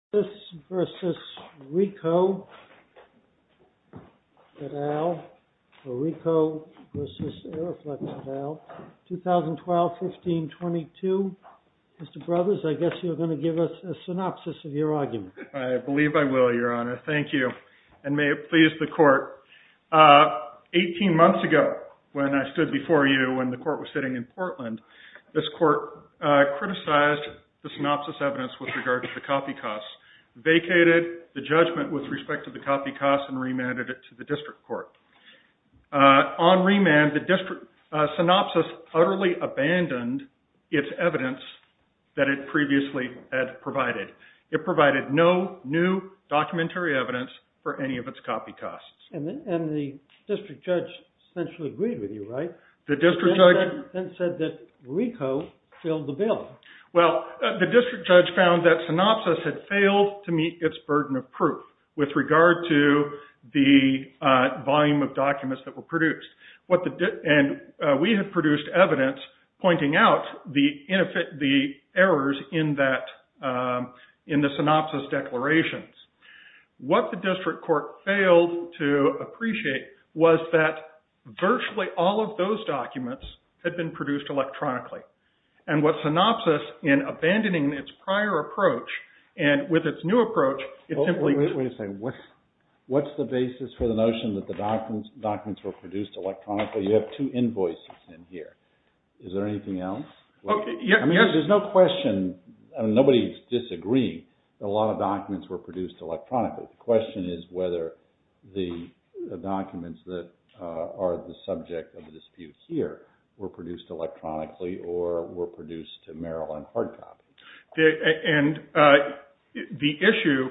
RICOH v. AEROFLEX, LTD, 2012-15-22 Mr. Brothers, I guess you're going to give us a synopsis of your argument. I believe I will, Your Honor. Thank you. And may it please the Court, 18 months ago, when I stood before you, when the Court was sitting in Portland, this Court criticized the synopsis evidence with regard to the copy costs, vacated the judgment with respect to the copy costs, and remanded it to the District Court. On remand, the district synopsis utterly abandoned its evidence that it previously had provided. It provided no new documentary evidence for any of its copy costs. And the district judge essentially agreed with you, right? Then said that RICOH failed the bill. Well, the district judge found that synopsis had failed to meet its burden of proof with regard to the volume of documents that were produced. And we had produced evidence pointing out the errors in the synopsis declarations. What the district court failed to appreciate was that virtually all of those documents had been produced electronically. And what synopsis, in abandoning its prior approach, and with its new approach, Wait a second. What's the basis for the notion that the documents were produced electronically? You have two invoices in here. Is there anything else? I mean, there's no question. Nobody's disagreeing that a lot of documents were produced electronically. The question is whether the documents that are the subject of the dispute here were produced electronically or were produced to Merrill and Hardtop. And the issue,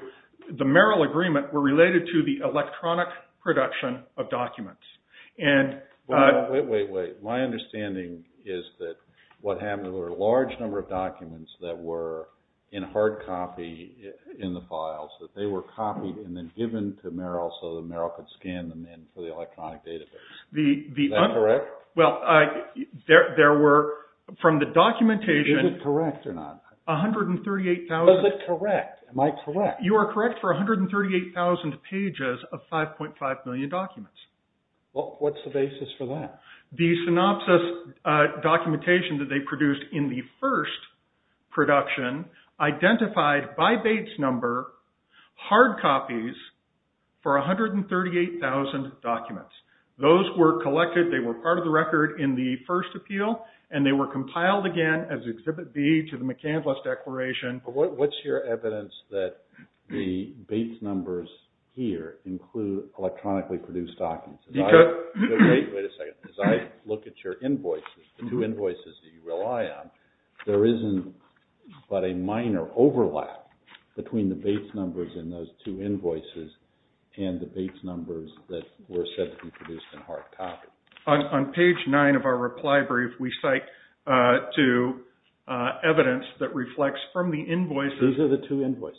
the Merrill agreement, were related to the electronic production of documents. Wait, wait, wait. My understanding is that what happened was a large number of documents that were in hard copy in the files, that they were copied and then given to Merrill so that Merrill could scan them in for the electronic database. Is that correct? Well, there were, from the documentation, Is it correct or not? 138,000 Is it correct? Am I correct? You are correct for 138,000 pages of 5.5 million documents. Well, what's the basis for that? The synopsis documentation that they produced in the first production identified by Bates number hard copies for 138,000 documents. Those were collected, they were part of the record in the first appeal and they were compiled again as Exhibit B to the McCandless Declaration. What's your evidence that the Bates numbers here include electronically produced documents? Because Wait a second. As I look at your invoices, the two invoices that you rely on, there isn't but a minor overlap between the Bates numbers in those two invoices and the Bates numbers that were said to be produced in hard copy. On page 9 of our reply brief, we cite to evidence that reflects from the invoices Those are the two invoices.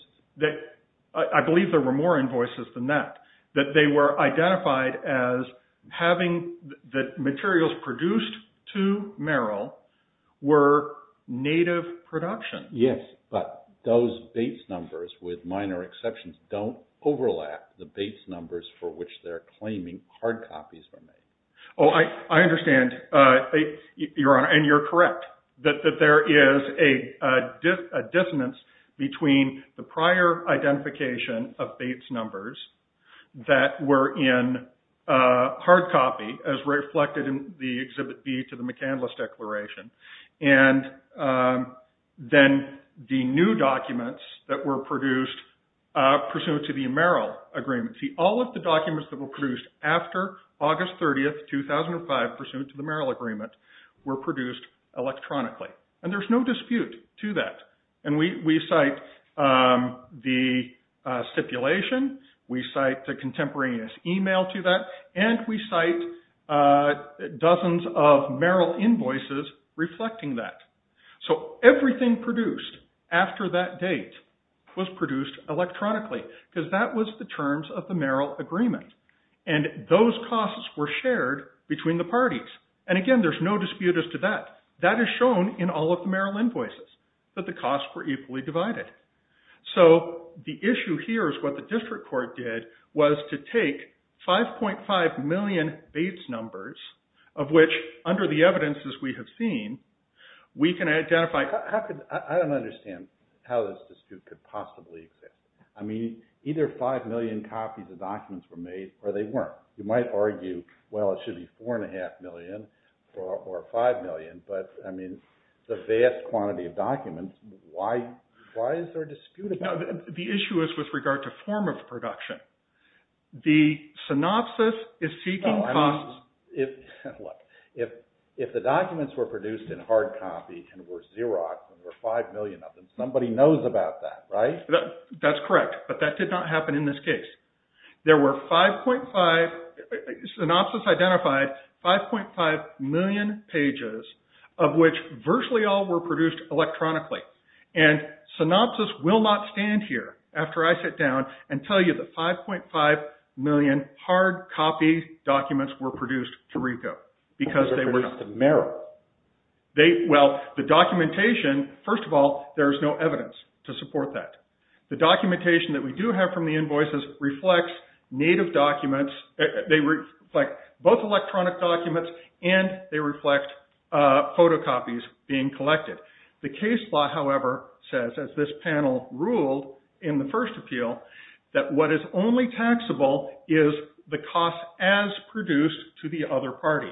I believe there were more invoices than that. They were identified as having the materials produced to Merrill were native production. Yes, but those Bates numbers, with minor exceptions, don't overlap the Bates numbers for which they're claiming hard copies were made. Oh, I understand, Your Honor, and you're correct. That there is a dissonance between the prior identification of Bates numbers that were in hard copy as reflected in the Exhibit B to the McCandless Declaration and then the new documents that were produced pursuant to the Merrill Agreement. See, all of the documents that were produced after August 30, 2005, pursuant to the Merrill Agreement, were produced electronically. And there's no dispute to that. And we cite the stipulation, we cite the contemporaneous email to that, and we cite dozens of Merrill invoices reflecting that. So everything produced after that date was produced electronically because that was the terms of the Merrill Agreement. And those costs were shared between the parties. And again, there's no dispute as to that. That is shown in all of the Merrill invoices, that the costs were equally divided. So the issue here is what the district court did was to take 5.5 million Bates numbers, of which, under the evidences we have seen, we can identify... I don't understand how this dispute could possibly exist. I mean, either 5 million copies of documents were made or they weren't. You might argue, well, it should be 4.5 million or 5 million, but, I mean, it's a vast quantity of documents. Why is there a dispute about that? The issue is with regard to form of production. The synopsis is seeking costs. Look, if the documents were produced in hard copy and were Xeroxed, and there were 5 million of them, somebody knows about that, right? That's correct, but that did not happen in this case. There were 5.5... Synopsis identified 5.5 million pages of which virtually all were produced electronically. And synopsis will not stand here after I sit down and tell you that 5.5 million hard copy documents were produced to RICO because they were not. They were produced in Merrill. Well, the documentation... First of all, there's no evidence to support that. The documentation that we do have from the invoices reflects native documents. They reflect both electronic documents and they reflect photocopies being collected. The case law, however, says, as this panel ruled in the first appeal, that what is only taxable is the cost as produced to the other party.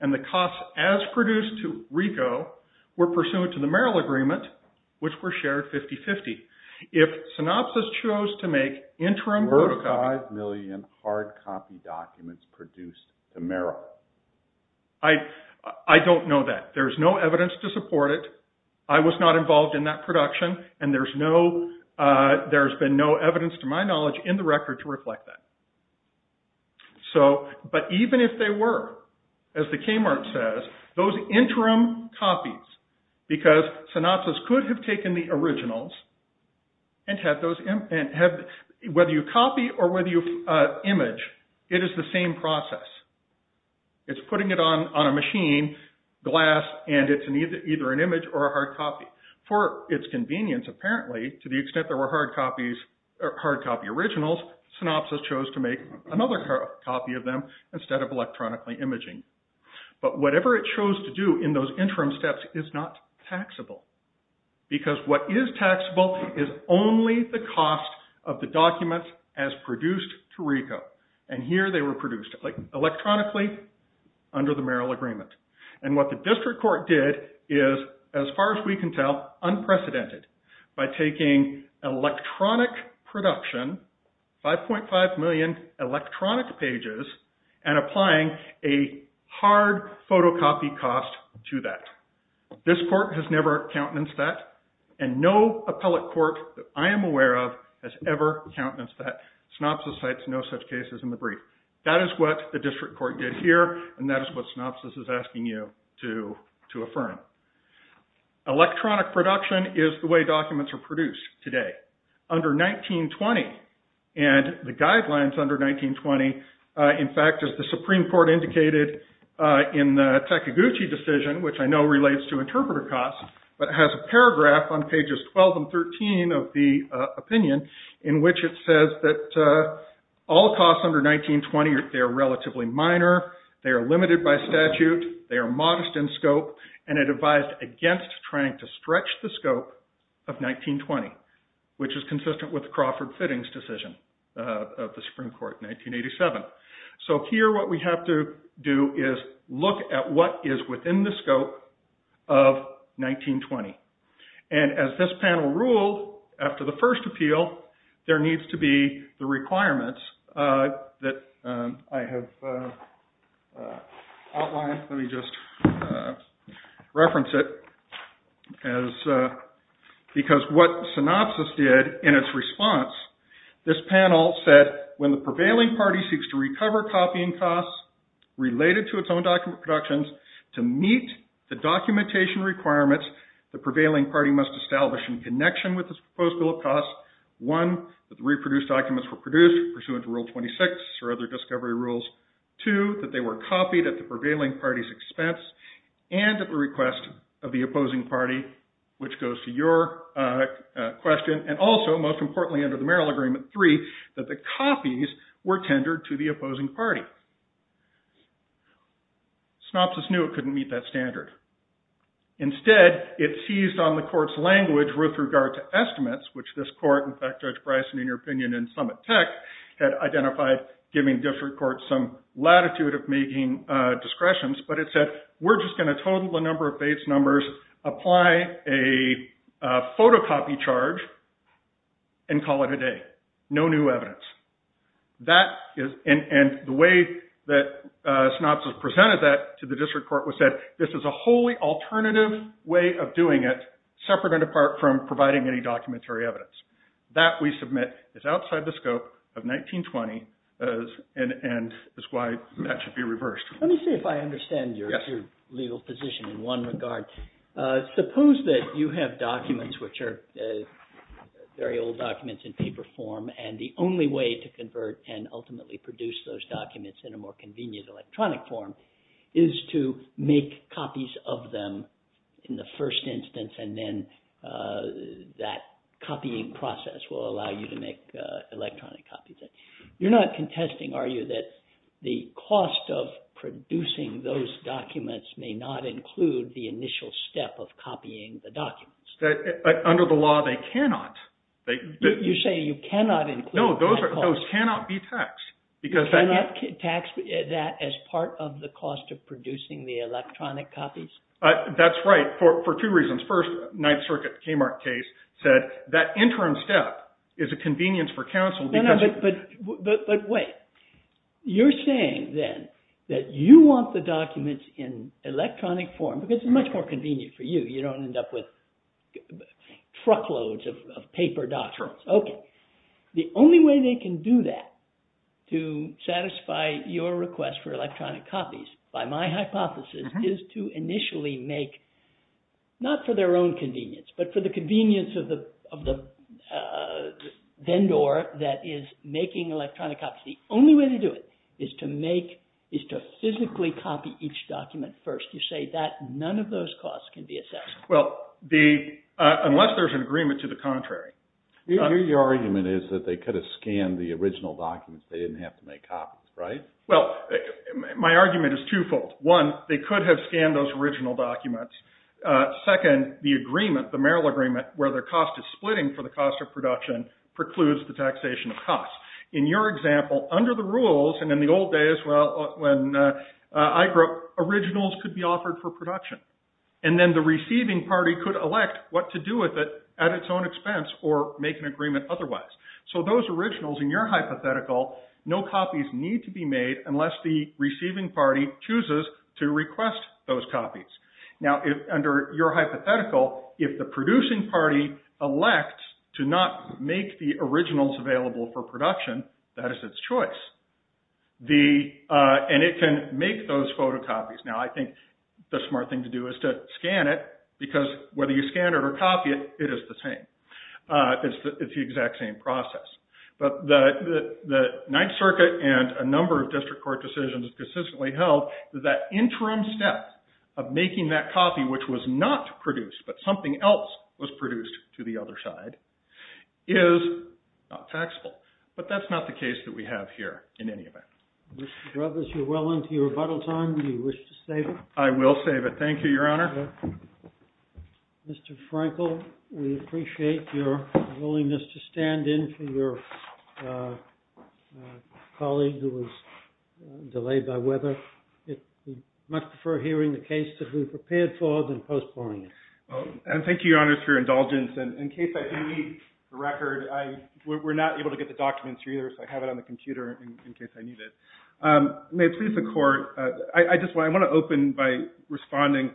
And the cost as produced to RICO were pursued to the Merrill Agreement, which were shared 50-50. If synopsis chose to make interim photocopies... Were 5 million hard copy documents produced to Merrill? I don't know that. There's no evidence to support it. I was not involved in that production, and there's been no evidence to my knowledge in the record to reflect that. But even if they were, as the Kmart says, those interim copies, because synopsis could have taken the originals and had those... Whether you copy or whether you image, it is the same process. It's putting it on a machine, glass, and it's either an image or a hard copy. For its convenience, apparently, to the extent there were hard copy originals, synopsis chose to make another copy of them instead of electronically imaging. But whatever it chose to do in those interim steps is not taxable. Because what is taxable is only the cost of the documents as produced to RICO. And here they were produced electronically under the Merrill Agreement. And what the district court did is, as far as we can tell, unprecedented. By taking electronic production, 5.5 million electronic pages, and applying a hard photocopy cost to that. This court has never countenanced that, and no appellate court that I am aware of has ever countenanced that. Synopsis cites no such cases in the brief. That is what the district court did here, and that is what synopsis is asking you to affirm. Electronic production is the way documents are produced today. Under 19-20, and the guidelines under 19-20, in fact, as the Supreme Court indicated in the Takaguchi decision, which I know relates to interpreter costs, but it has a paragraph on pages 12 and 13 of the opinion, in which it says that all costs under 19-20, they are relatively minor, they are limited by statute, they are modest in scope, and it advised against trying to stretch the scope of 19-20. Which is consistent with the Crawford Fittings decision of the Supreme Court in 1987. So here what we have to do is look at what is within the scope of 19-20. And as this panel ruled, after the first appeal, there needs to be the requirements that I have outlined. Let me just reference it. Because what synopsis did in its response, this panel said when the prevailing party seeks to recover copying costs related to its own document productions, to meet the documentation requirements, the prevailing party must establish in connection with the proposed bill of costs, one, that the reproduced documents were produced pursuant to Rule 26 or other discovery rules, two, that they were copied at the prevailing party's expense, and at the request of the opposing party, which goes to your question, and also, most importantly under the Merrill Agreement, three, that the copies were tendered to the opposing party. Synopsis knew it couldn't meet that standard. Instead, it seized on the court's language with regard to estimates, which this court, in fact, Judge Bryson, in your opinion, had identified giving district courts some latitude of making discretions, but it said, we're just going to total the number of base numbers, apply a photocopy charge, and call it a day. No new evidence. And the way that synopsis presented that to the district court was that this is a wholly alternative way of doing it, separate and apart from providing any documentary evidence. That, we submit, is outside the scope of 1920, and is why that should be reversed. Let me see if I understand your legal position in one regard. Suppose that you have documents which are very old documents in paper form, and the only way to convert and ultimately produce those documents in a more convenient electronic form is to make copies of them in the first instance, and then that copying process will allow you to make electronic copies of them. You're not contesting, are you, that the cost of producing those documents may not include the initial step of copying the documents? Under the law, they cannot. You're saying you cannot include that cost? No, those cannot be taxed. You cannot tax that as part of the cost of producing the electronic copies? That's right, for two reasons. First, Ninth Circuit Kmart case said that interim step is a convenience for counsel. But wait. You're saying, then, that you want the documents in electronic form, because it's much more convenient for you. You don't end up with truckloads of paper documents. Okay. The only way they can do that to satisfy your request for electronic copies, by my hypothesis, is to initially make, not for their own convenience, but for the convenience of the vendor that is making electronic copies. The only way to do it is to physically copy each document first. You say that none of those costs can be assessed? Well, unless there's an agreement to the contrary. Your argument is that they could have scanned the original documents. They didn't have to make copies, right? Well, my argument is twofold. One, they could have scanned those original documents. Second, the agreement, the Merrill Agreement, where their cost is splitting for the cost of production, precludes the taxation of costs. In your example, under the rules, and in the old days when I grew up, originals could be offered for production. And then the receiving party could elect what to do with it at its own expense or make an agreement otherwise. So those originals, in your hypothetical, no copies need to be made unless the receiving party chooses to request those copies. Now, under your hypothetical, if the producing party elects to not make the originals available for production, that is its choice. And it can make those photocopies. Now, I think the smart thing to do is to scan it, because whether you scan it or copy it, it is the same. It's the exact same process. But the Ninth Circuit and a number of district court decisions consistently held that that interim step of making that copy, which was not produced, but something else was produced to the other side, is not taxable. But that's not the case that we have here in any event. Mr. Brevis, you're well into your rebuttal time. Do you wish to save it? I will save it. Thank you, Your Honor. Mr. Frankel, we appreciate your willingness to stand in for your colleague who was delayed by weather. We'd much prefer hearing the case that we prepared for than postponing it. Thank you, Your Honor, for your indulgence. And in case I do need the record, we're not able to get the documents here either, so I have it on the computer in case I need it. May it please the Court, I just want to open by responding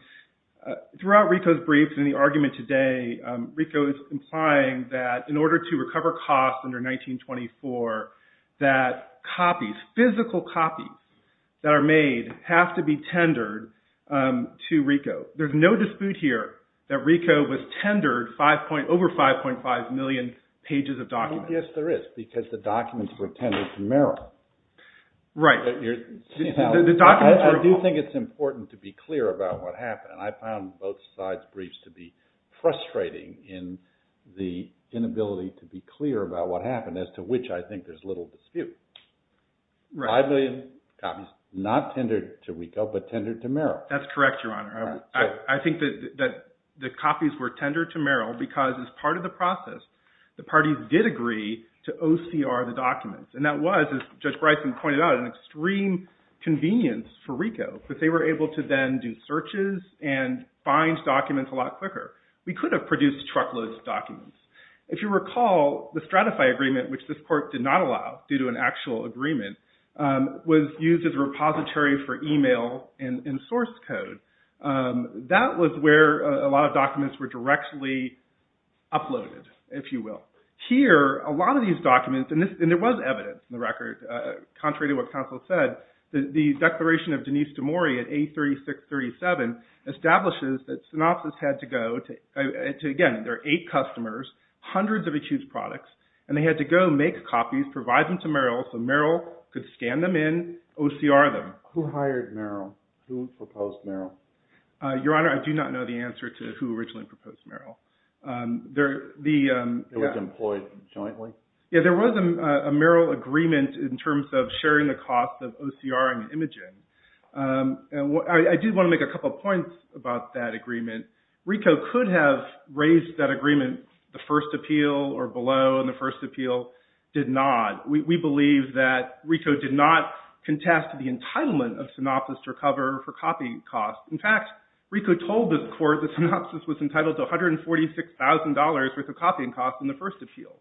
throughout RICO's briefs and the argument today, RICO is implying that in order to recover costs under 1924, that copies, physical copies that are made, have to be tendered to RICO. There's no dispute here that RICO was tendered over 5.5 million pages of documents. Yes, there is, because the documents were tendered to Merrill. Right. I do think it's important to be clear about what happened. I found both sides' briefs to be frustrating in the inability to be clear about what happened, as to which I think there's little dispute. 5 million copies, not tendered to RICO, but tendered to Merrill. That's correct, Your Honor. I think that the copies were tendered to Merrill because as part of the process, the parties did agree to OCR the documents. And that was, as Judge Bryson pointed out, an extreme convenience for RICO, because they were able to then do searches and find documents a lot quicker. We could have produced truckloads of documents. If you recall, the Stratify Agreement, which this court did not allow due to an actual agreement, was used as a repository for email and source code. That was where a lot of documents were directly uploaded, if you will. Here, a lot of these documents, and there was evidence in the record, contrary to what counsel said, the declaration of Denise DeMori at A3637 establishes that Synopsys had to go to, again, there are eight customers, hundreds of accused products, and they had to go make copies, provide them to Merrill, so Merrill could scan them in, OCR them. Who hired Merrill? Who proposed Merrill? Your Honor, I do not know the answer to who originally proposed Merrill. It was employed jointly? Yeah, there was a Merrill agreement in terms of sharing the costs of OCR and imaging. I do want to make a couple points about that agreement. RICO could have raised that agreement, the first appeal or below, and the first appeal did not. We believe that RICO did not contest the entitlement of Synopsys to recover for copying costs. In fact, RICO told the court that Synopsys was entitled to $146,000 worth of copying costs in the first appeal.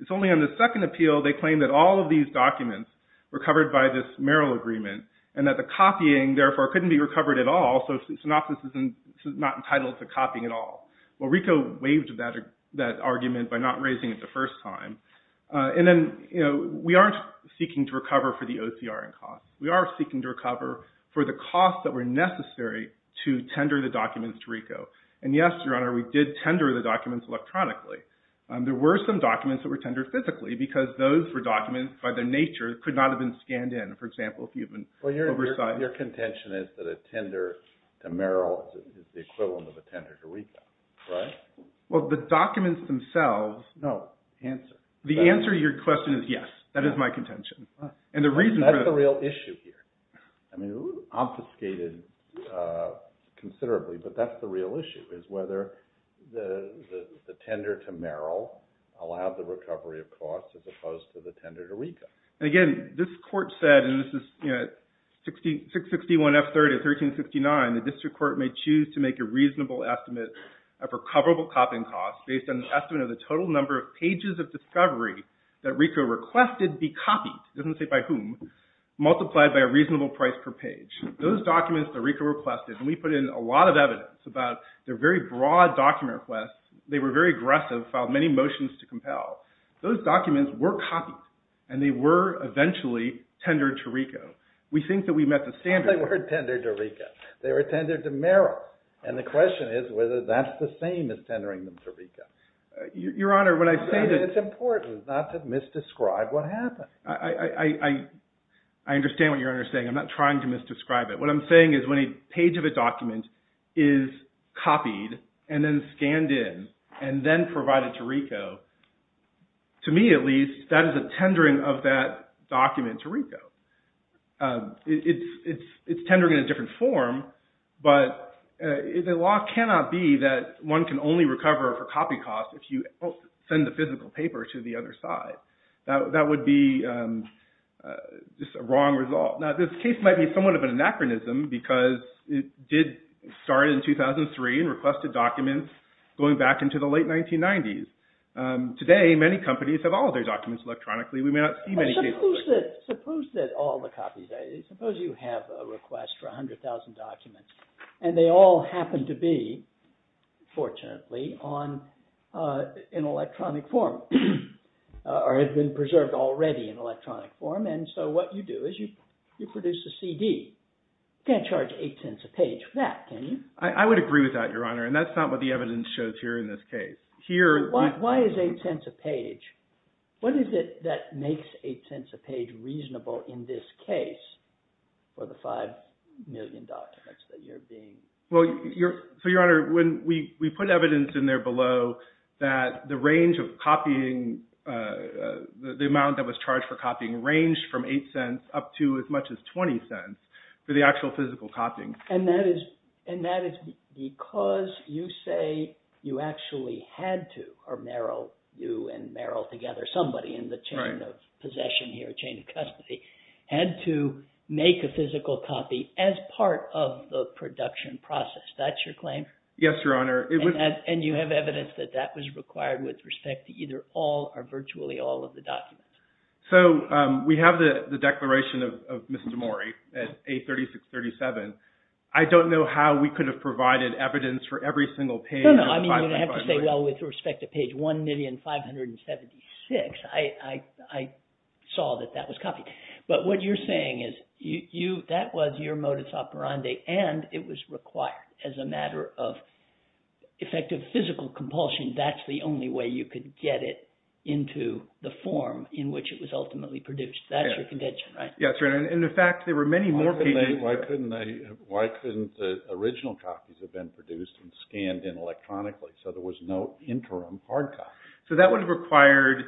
It's only on the second appeal they claim that all of these documents were covered by this Merrill agreement, and that the copying, therefore, couldn't be recovered at all, so Synopsys is not entitled to copying at all. Well, RICO waived that argument by not raising it the first time. And then, you know, we aren't seeking to recover for the OCR and costs. We are seeking to recover for the costs that were necessary to tender the documents to RICO. And yes, Your Honor, we did tender the documents electronically. There were some documents that were tendered physically because those were documents by their nature that could not have been scanned in. For example, if you have an oversight... Well, your contention is that a tender to Merrill is the equivalent of a tender to RICO, right? Well, the documents themselves... No, answer. The answer to your question is yes. That is my contention. And the reason... That's the real issue here. I mean, obfuscated considerably, but that's the real issue, is whether the tender to Merrill allowed the recovery of costs as opposed to the tender to RICO. And again, this Court said, and this is 661 F. 30, 1369, the District Court may choose to make a reasonable estimate of recoverable copying costs based on an estimate of the total number of pages of discovery that RICO requested be copied, it doesn't say by whom, multiplied by a reasonable price per page. Those documents that RICO requested, and we put in a lot of evidence about their very broad document requests, they were very aggressive, filed many motions to compel. Those documents were copies, and they were eventually tendered to RICO. We think that we met the standards... They were tendered to RICO. They were tendered to Merrill. And the question is whether that's the same as tendering them to RICO. Your Honor, when I say that... It's important not to misdescribe what happened. I understand what you're saying. I'm not trying to misdescribe it. What I'm saying is when a page of a document is copied and then scanned in and then provided to RICO, to me at least, that is a tendering of that document to RICO. It's tendering in a different form, but the law cannot be that one can only recover for copy costs if you send the physical paper to the other side. That would be just a wrong result. Now this case might be somewhat of an anachronism because it did start in 2003 and requested documents going back into the late 1990s. Today, many companies have all their documents electronically. We may not see many cases... Suppose that all the copies... Suppose you have a request for 100,000 documents and they all happen to be, fortunately, on an electronic form or have been preserved already in electronic form. And so what you do is you produce a CD. You can't charge 8 cents a page for that, can you? I would agree with that, Your Honor, and that's not what the evidence shows here in this case. Why is 8 cents a page? What is it that makes 8 cents a page reasonable in this case for the 5 million documents that you're being... Well, Your Honor, when we put evidence in there below that the range of copying... the amount that was charged for copying ranged from 8 cents up to as much as 20 cents for the actual physical copying. And that is because you say you actually had to, or Merrill, you and Merrill together, somebody in the chain of possession here, chain of custody, had to make a physical copy as part of the production process. That's your claim? Yes, Your Honor. And you have evidence that that was required with respect to either all or virtually all of the documents? So we have the declaration of Mr. Morey at A3637. I don't know how we could have provided evidence for every single page of the 5.5 million... No, no, I mean, you would have to say, well, with respect to page 1,576, I saw that that was copied. But what you're saying is that was your modus operandi and it was required as a matter of effective physical compulsion. That's the only way you could get it into the form in which it was ultimately produced. That's your conviction, right? Yes, Your Honor. And, in fact, there were many more pages... Why couldn't the original copies have been produced and scanned in electronically so there was no interim hard copy? So that would have required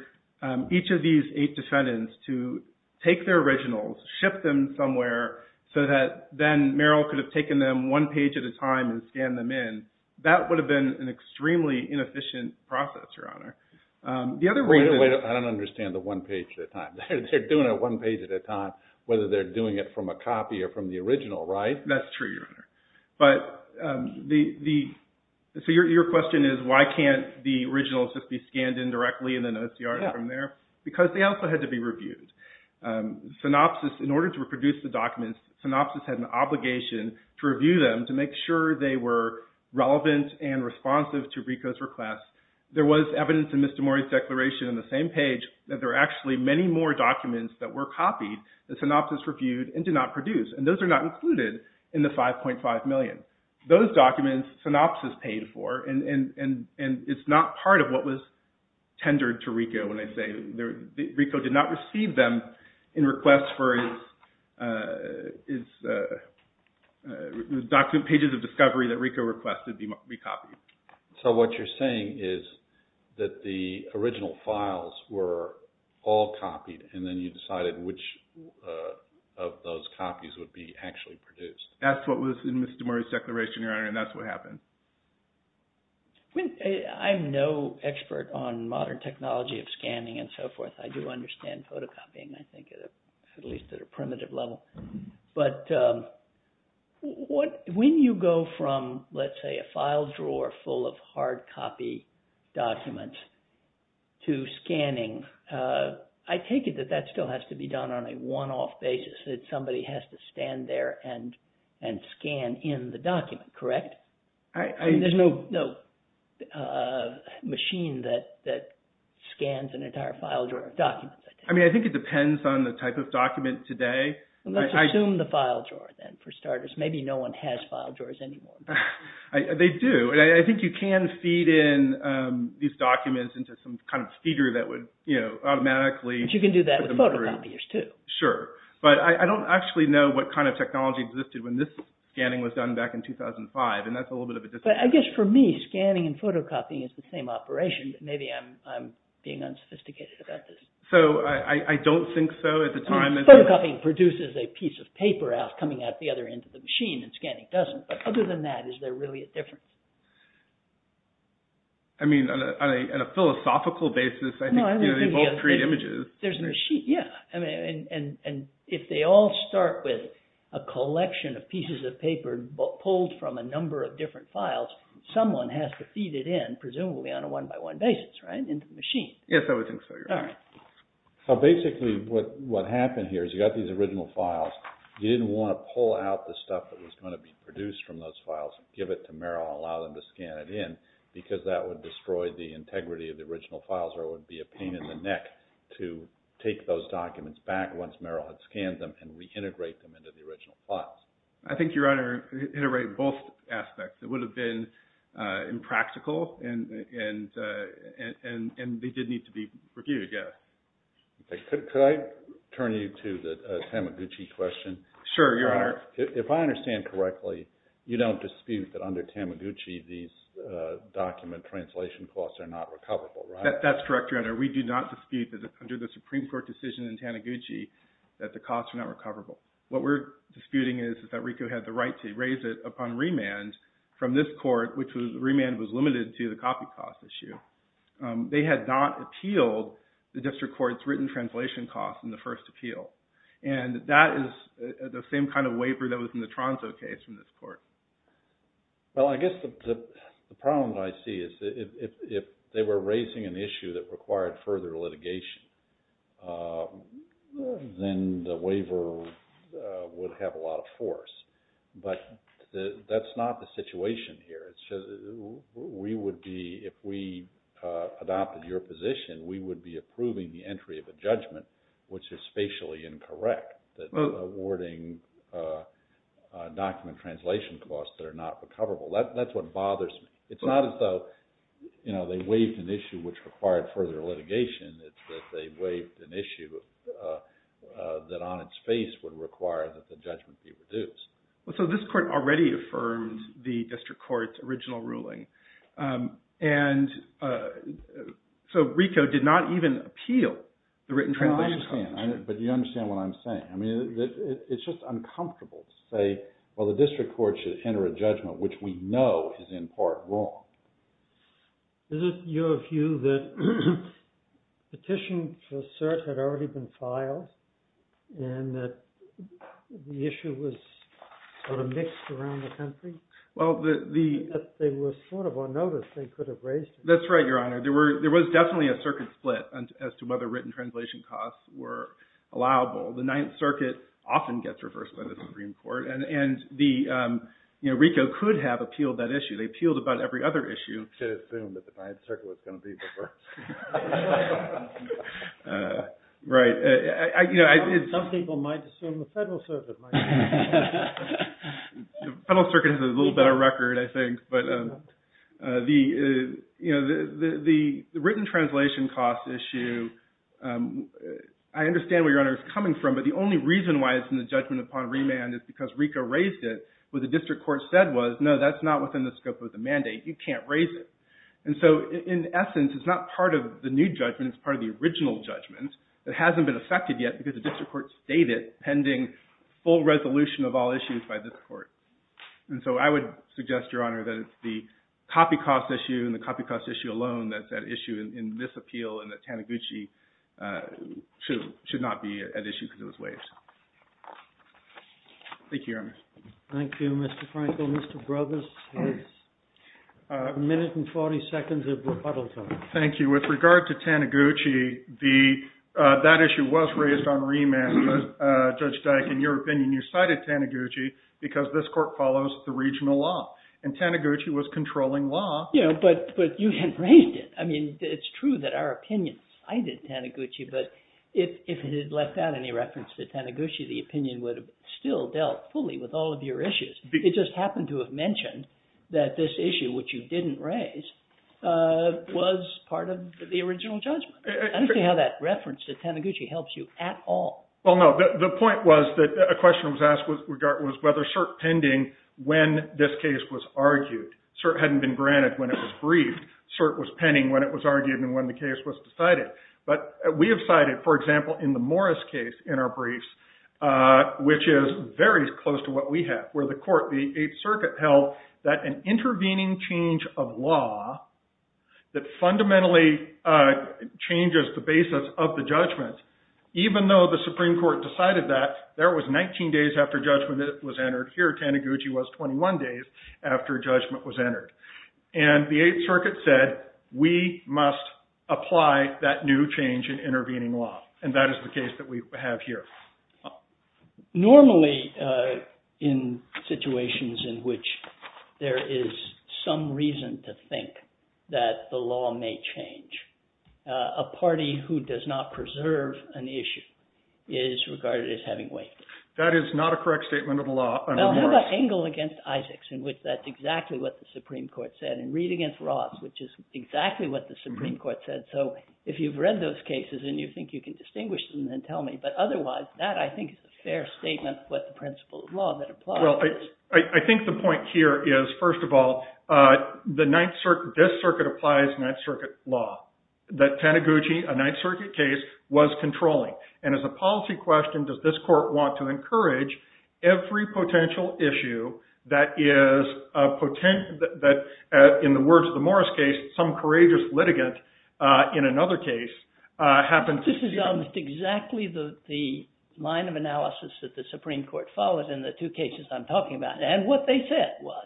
each of these eight defendants to take their originals, ship them somewhere, so that then Merrill could have taken them one page at a time and scanned them in. And that would have been an extremely inefficient process, Your Honor. Wait a minute. I don't understand the one page at a time. They're doing it one page at a time, whether they're doing it from a copy or from the original, right? That's true, Your Honor. But the... So your question is, why can't the originals just be scanned in directly and then OCR them from there? Because they also had to be reviewed. Synopsys, in order to produce the documents, Synopsys had an obligation to review them to make sure they were relevant and responsive to RICO's request. There was evidence in Mr. Mori's declaration on the same page that there are actually many more documents that were copied that Synopsys reviewed and did not produce, and those are not included in the $5.5 million. Those documents, Synopsys paid for, and it's not part of what was tendered to RICO, when I say RICO did not receive them in request for his document, pages of discovery that RICO requested be copied. So what you're saying is that the original files were all copied and then you decided which of those copies would be actually produced. That's what was in Mr. Mori's declaration, Your Honor, and that's what happened. I'm no expert on modern technology of scanning and so forth. I do understand photocopying, I think, at least at a primitive level. But when you go from, let's say, a file drawer full of hard copy documents to scanning, I take it that that still has to be done on a one-off basis, that somebody has to stand there and scan in the document, correct? There's no machine that scans an entire file drawer of documents. I think it depends on the type of document today. Let's assume the file drawer, then, for starters. Maybe no one has file drawers anymore. They do. I think you can feed in these documents into some kind of feeder that would automatically... But you can do that with photocopiers, too. Sure, but I don't actually know what kind of technology existed when this scanning was done back in 2005, and that's a little bit of a disappointment. I guess for me, scanning and photocopying is the same operation, but maybe I'm being unsophisticated about this. So, I don't think so at the time. Photocopying produces a piece of paper coming out the other end of the machine, and scanning doesn't. But other than that, is there really a difference? I mean, on a philosophical basis, I think they both create images. There's a machine, yeah. And if they all start with a collection of pieces of paper pulled from a number of different files, someone has to feed it in, presumably on a one-by-one basis, right, into the machine. Yes, I would think so, yes. All right. So, basically, what happened here is you got these original files. You didn't want to pull out the stuff that was going to be produced from those files, give it to Merrill, and allow them to scan it in, because that would destroy the integrity of the original files, or it would be a pain in the neck to take those documents back once Merrill had scanned them and reintegrate them into the original files. I think you're right on integrating both aspects. It would have been impractical, and they did need to be reviewed, yes. Could I turn you to the Tamaguchi question? Sure, Your Honor. If I understand correctly, you don't dispute that under Tamaguchi these document translation costs are not recoverable, right? That's correct, Your Honor. We do not dispute that under the Supreme Court decision in Tamaguchi that the costs are not recoverable. What we're disputing is that RICO had the right to raise it upon remand from this court, which was remand was limited to the copy cost issue. They had not appealed the district court's written translation costs in the first appeal, and that is the same kind of waiver that was in the Tronso case from this court. Well, I guess the problem that I see is if they were raising an issue that required further litigation, then the waiver would have a lot of force, but that's not the situation here. We would be, if we adopted your position, we would be approving the entry of a judgment which is spatially incorrect, awarding document translation costs that are not recoverable. That's what bothers me. It's not as though they waived an issue which required further litigation. It's that they waived an issue that on its face would require that the judgment be reduced. So this court already affirmed the district court's original ruling, and so RICO did not even appeal the written translation costs. But you understand what I'm saying. It's just uncomfortable to say, well, the district court should enter a judgment which we know is in part wrong. Is it your view that petitions for cert had already been filed and that the issue was sort of mixed around the country? They were sort of on notice. They could have raised it. That's right, Your Honor. There was definitely a circuit split as to whether written translation costs were allowable. The Ninth Circuit often gets reversed by the Supreme Court, and RICO could have appealed that issue. They appealed about every other issue. You could assume that the Ninth Circuit was going to be reversed. Right. Some people might assume the Federal Circuit might be. The Federal Circuit has a little better record, I think. But the written translation cost issue, I understand where Your Honor is coming from, but the only reason why it's in the judgment upon remand is because RICO raised it where the district court said was, no, that's not within the scope of the mandate. You can't raise it. And so in essence, it's not part of the judgment. It's part of the new judgment. It's part of the original judgment that hasn't been affected yet because the district court stayed it pending full resolution of all issues by this court. And so I would suggest, Your Honor, that it's the copy cost issue and the copy cost issue alone that's at issue in this appeal and that Taniguchi should not be at issue because it was waived. Thank you, Your Honor. Thank you, Mr. Frankel. Mr. Brogues, your minute and 40 seconds of rebuttal time. Thank you. With regard to Taniguchi, that issue was raised on remand. Judge Dyke, in your opinion, you cited Taniguchi because this court follows the regional law and Taniguchi was controlling law. Yeah, but you hadn't raised it. I mean, it's true that our opinion cited Taniguchi, but if it had left out any reference to Taniguchi, the opinion would have still dealt fully with all of your issues. It just happened to have mentioned that this issue, which you didn't raise, was part of the original judgment. I don't see how that reference to Taniguchi helps you at all. Well, no. The point was that a question was asked was whether cert pending when this case was argued. Cert hadn't been granted when it was briefed. Cert was pending when it was argued and when the case was decided. But we have cited, for example, in the Morris case in our briefs, which is very close to what we have, where the court, the Eighth Circuit, held that an intervening change of law that fundamentally changes the basis of the judgment, even though the Supreme Court decided that there was 19 days after judgment was entered, here Taniguchi was 21 days after judgment was entered. And the Eighth Circuit said, we must apply that new change in intervening law. And that is the case that we have here. Normally, in situations in which there is some reason to think that the law may change, a party who does not preserve an issue is regarded as having waived it. That is not a correct statement of the law under Morris. Well, how about Engel against Isaacs, in which that's exactly what the Supreme Court said, and Reed against Ross, which is exactly what the Supreme Court said. So if you've read those cases and you think you can distinguish them, then tell me. But otherwise, that, I think, is a fair statement of what the principle of law that applies. Well, I think the point here is, first of all, this circuit applies Ninth Circuit law, that Taniguchi, a Ninth Circuit case, was controlling. And as a policy question, does this court want to encourage every potential issue that is a potential that, in the words of the Morris case, some courageous litigant in another case happened to see? That's exactly the line of analysis that the Supreme Court follows in the two cases I'm talking about. And what they said was,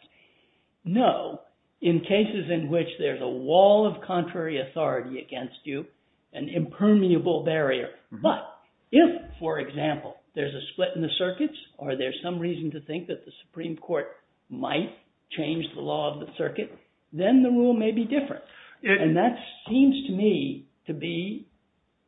no, in cases in which there's a wall of contrary authority against you, an impermeable barrier. But if, for example, there's a split in the circuits, or there's some reason to think that the Supreme Court might change the law of the circuit, then the rule may be different. And that seems to me to be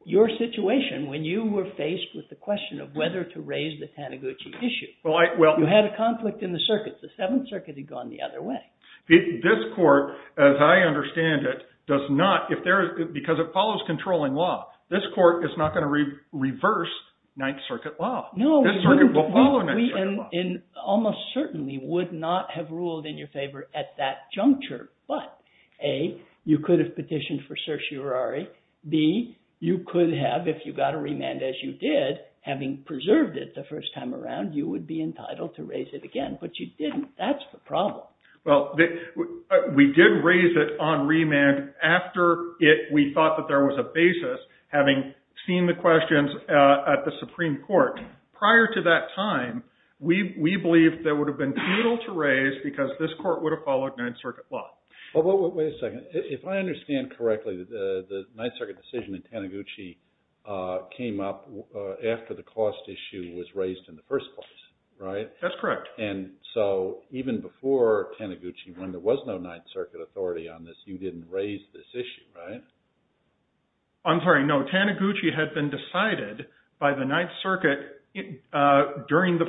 your situation when you were faced with the question of whether to raise the Taniguchi issue. Well, I, well. You had a conflict in the circuits. The Seventh Circuit had gone the other way. This court, as I understand it, does not, if there is, because it follows controlling law, this court is not going to reverse Ninth Circuit law. No. This circuit will follow Ninth Circuit law. And almost certainly would not have ruled in your favor at that juncture. But A, you could have petitioned for certiorari. B, you could have, if you got a remand, as you did, having preserved it the first time around, you would be entitled to raise it again. But you didn't. That's the problem. Well, we did raise it on remand after we thought that there was a basis, having seen the questions at the Supreme Court. Prior to that time, we believed there would have followed Ninth Circuit law. Wait a second. If I understand correctly, the Ninth Circuit decision in Taniguchi came up after the cost issue was raised in the first place, right? That's correct. And so even before Taniguchi, when there was no Ninth Circuit authority on this, you didn't raise this issue, right? I'm sorry. No. Taniguchi had been decided by the Ninth Circuit during the,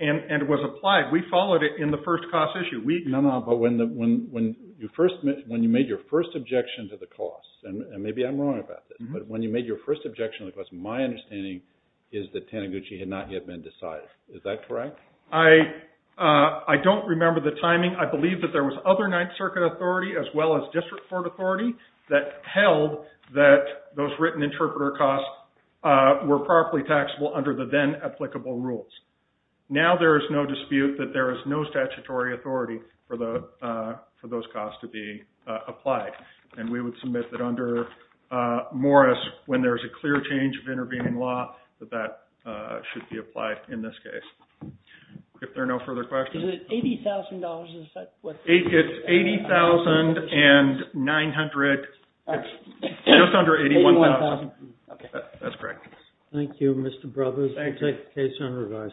and it was applied. We followed it in the first cost issue. But when you made your first objection to the cost, and maybe I'm wrong about this, but when you made your first objection to the cost, my understanding is that Taniguchi had not yet been decided. Is that correct? I don't remember the timing. I believe that there was other Ninth Circuit authority as well as District Court authority that held that those written interpreter costs were properly taxable under the then applicable rules. Now there is no dispute that there is no statutory authority for those costs to be applied. And we would submit that under Morris, when there is a clear change of intervening law, that that should be applied in this case. If there are no further questions. Is it $80,000? It's $80,900. Just under $81,000. That's correct. Thank you, Mr. Brothers. Thank you. Case is on revise.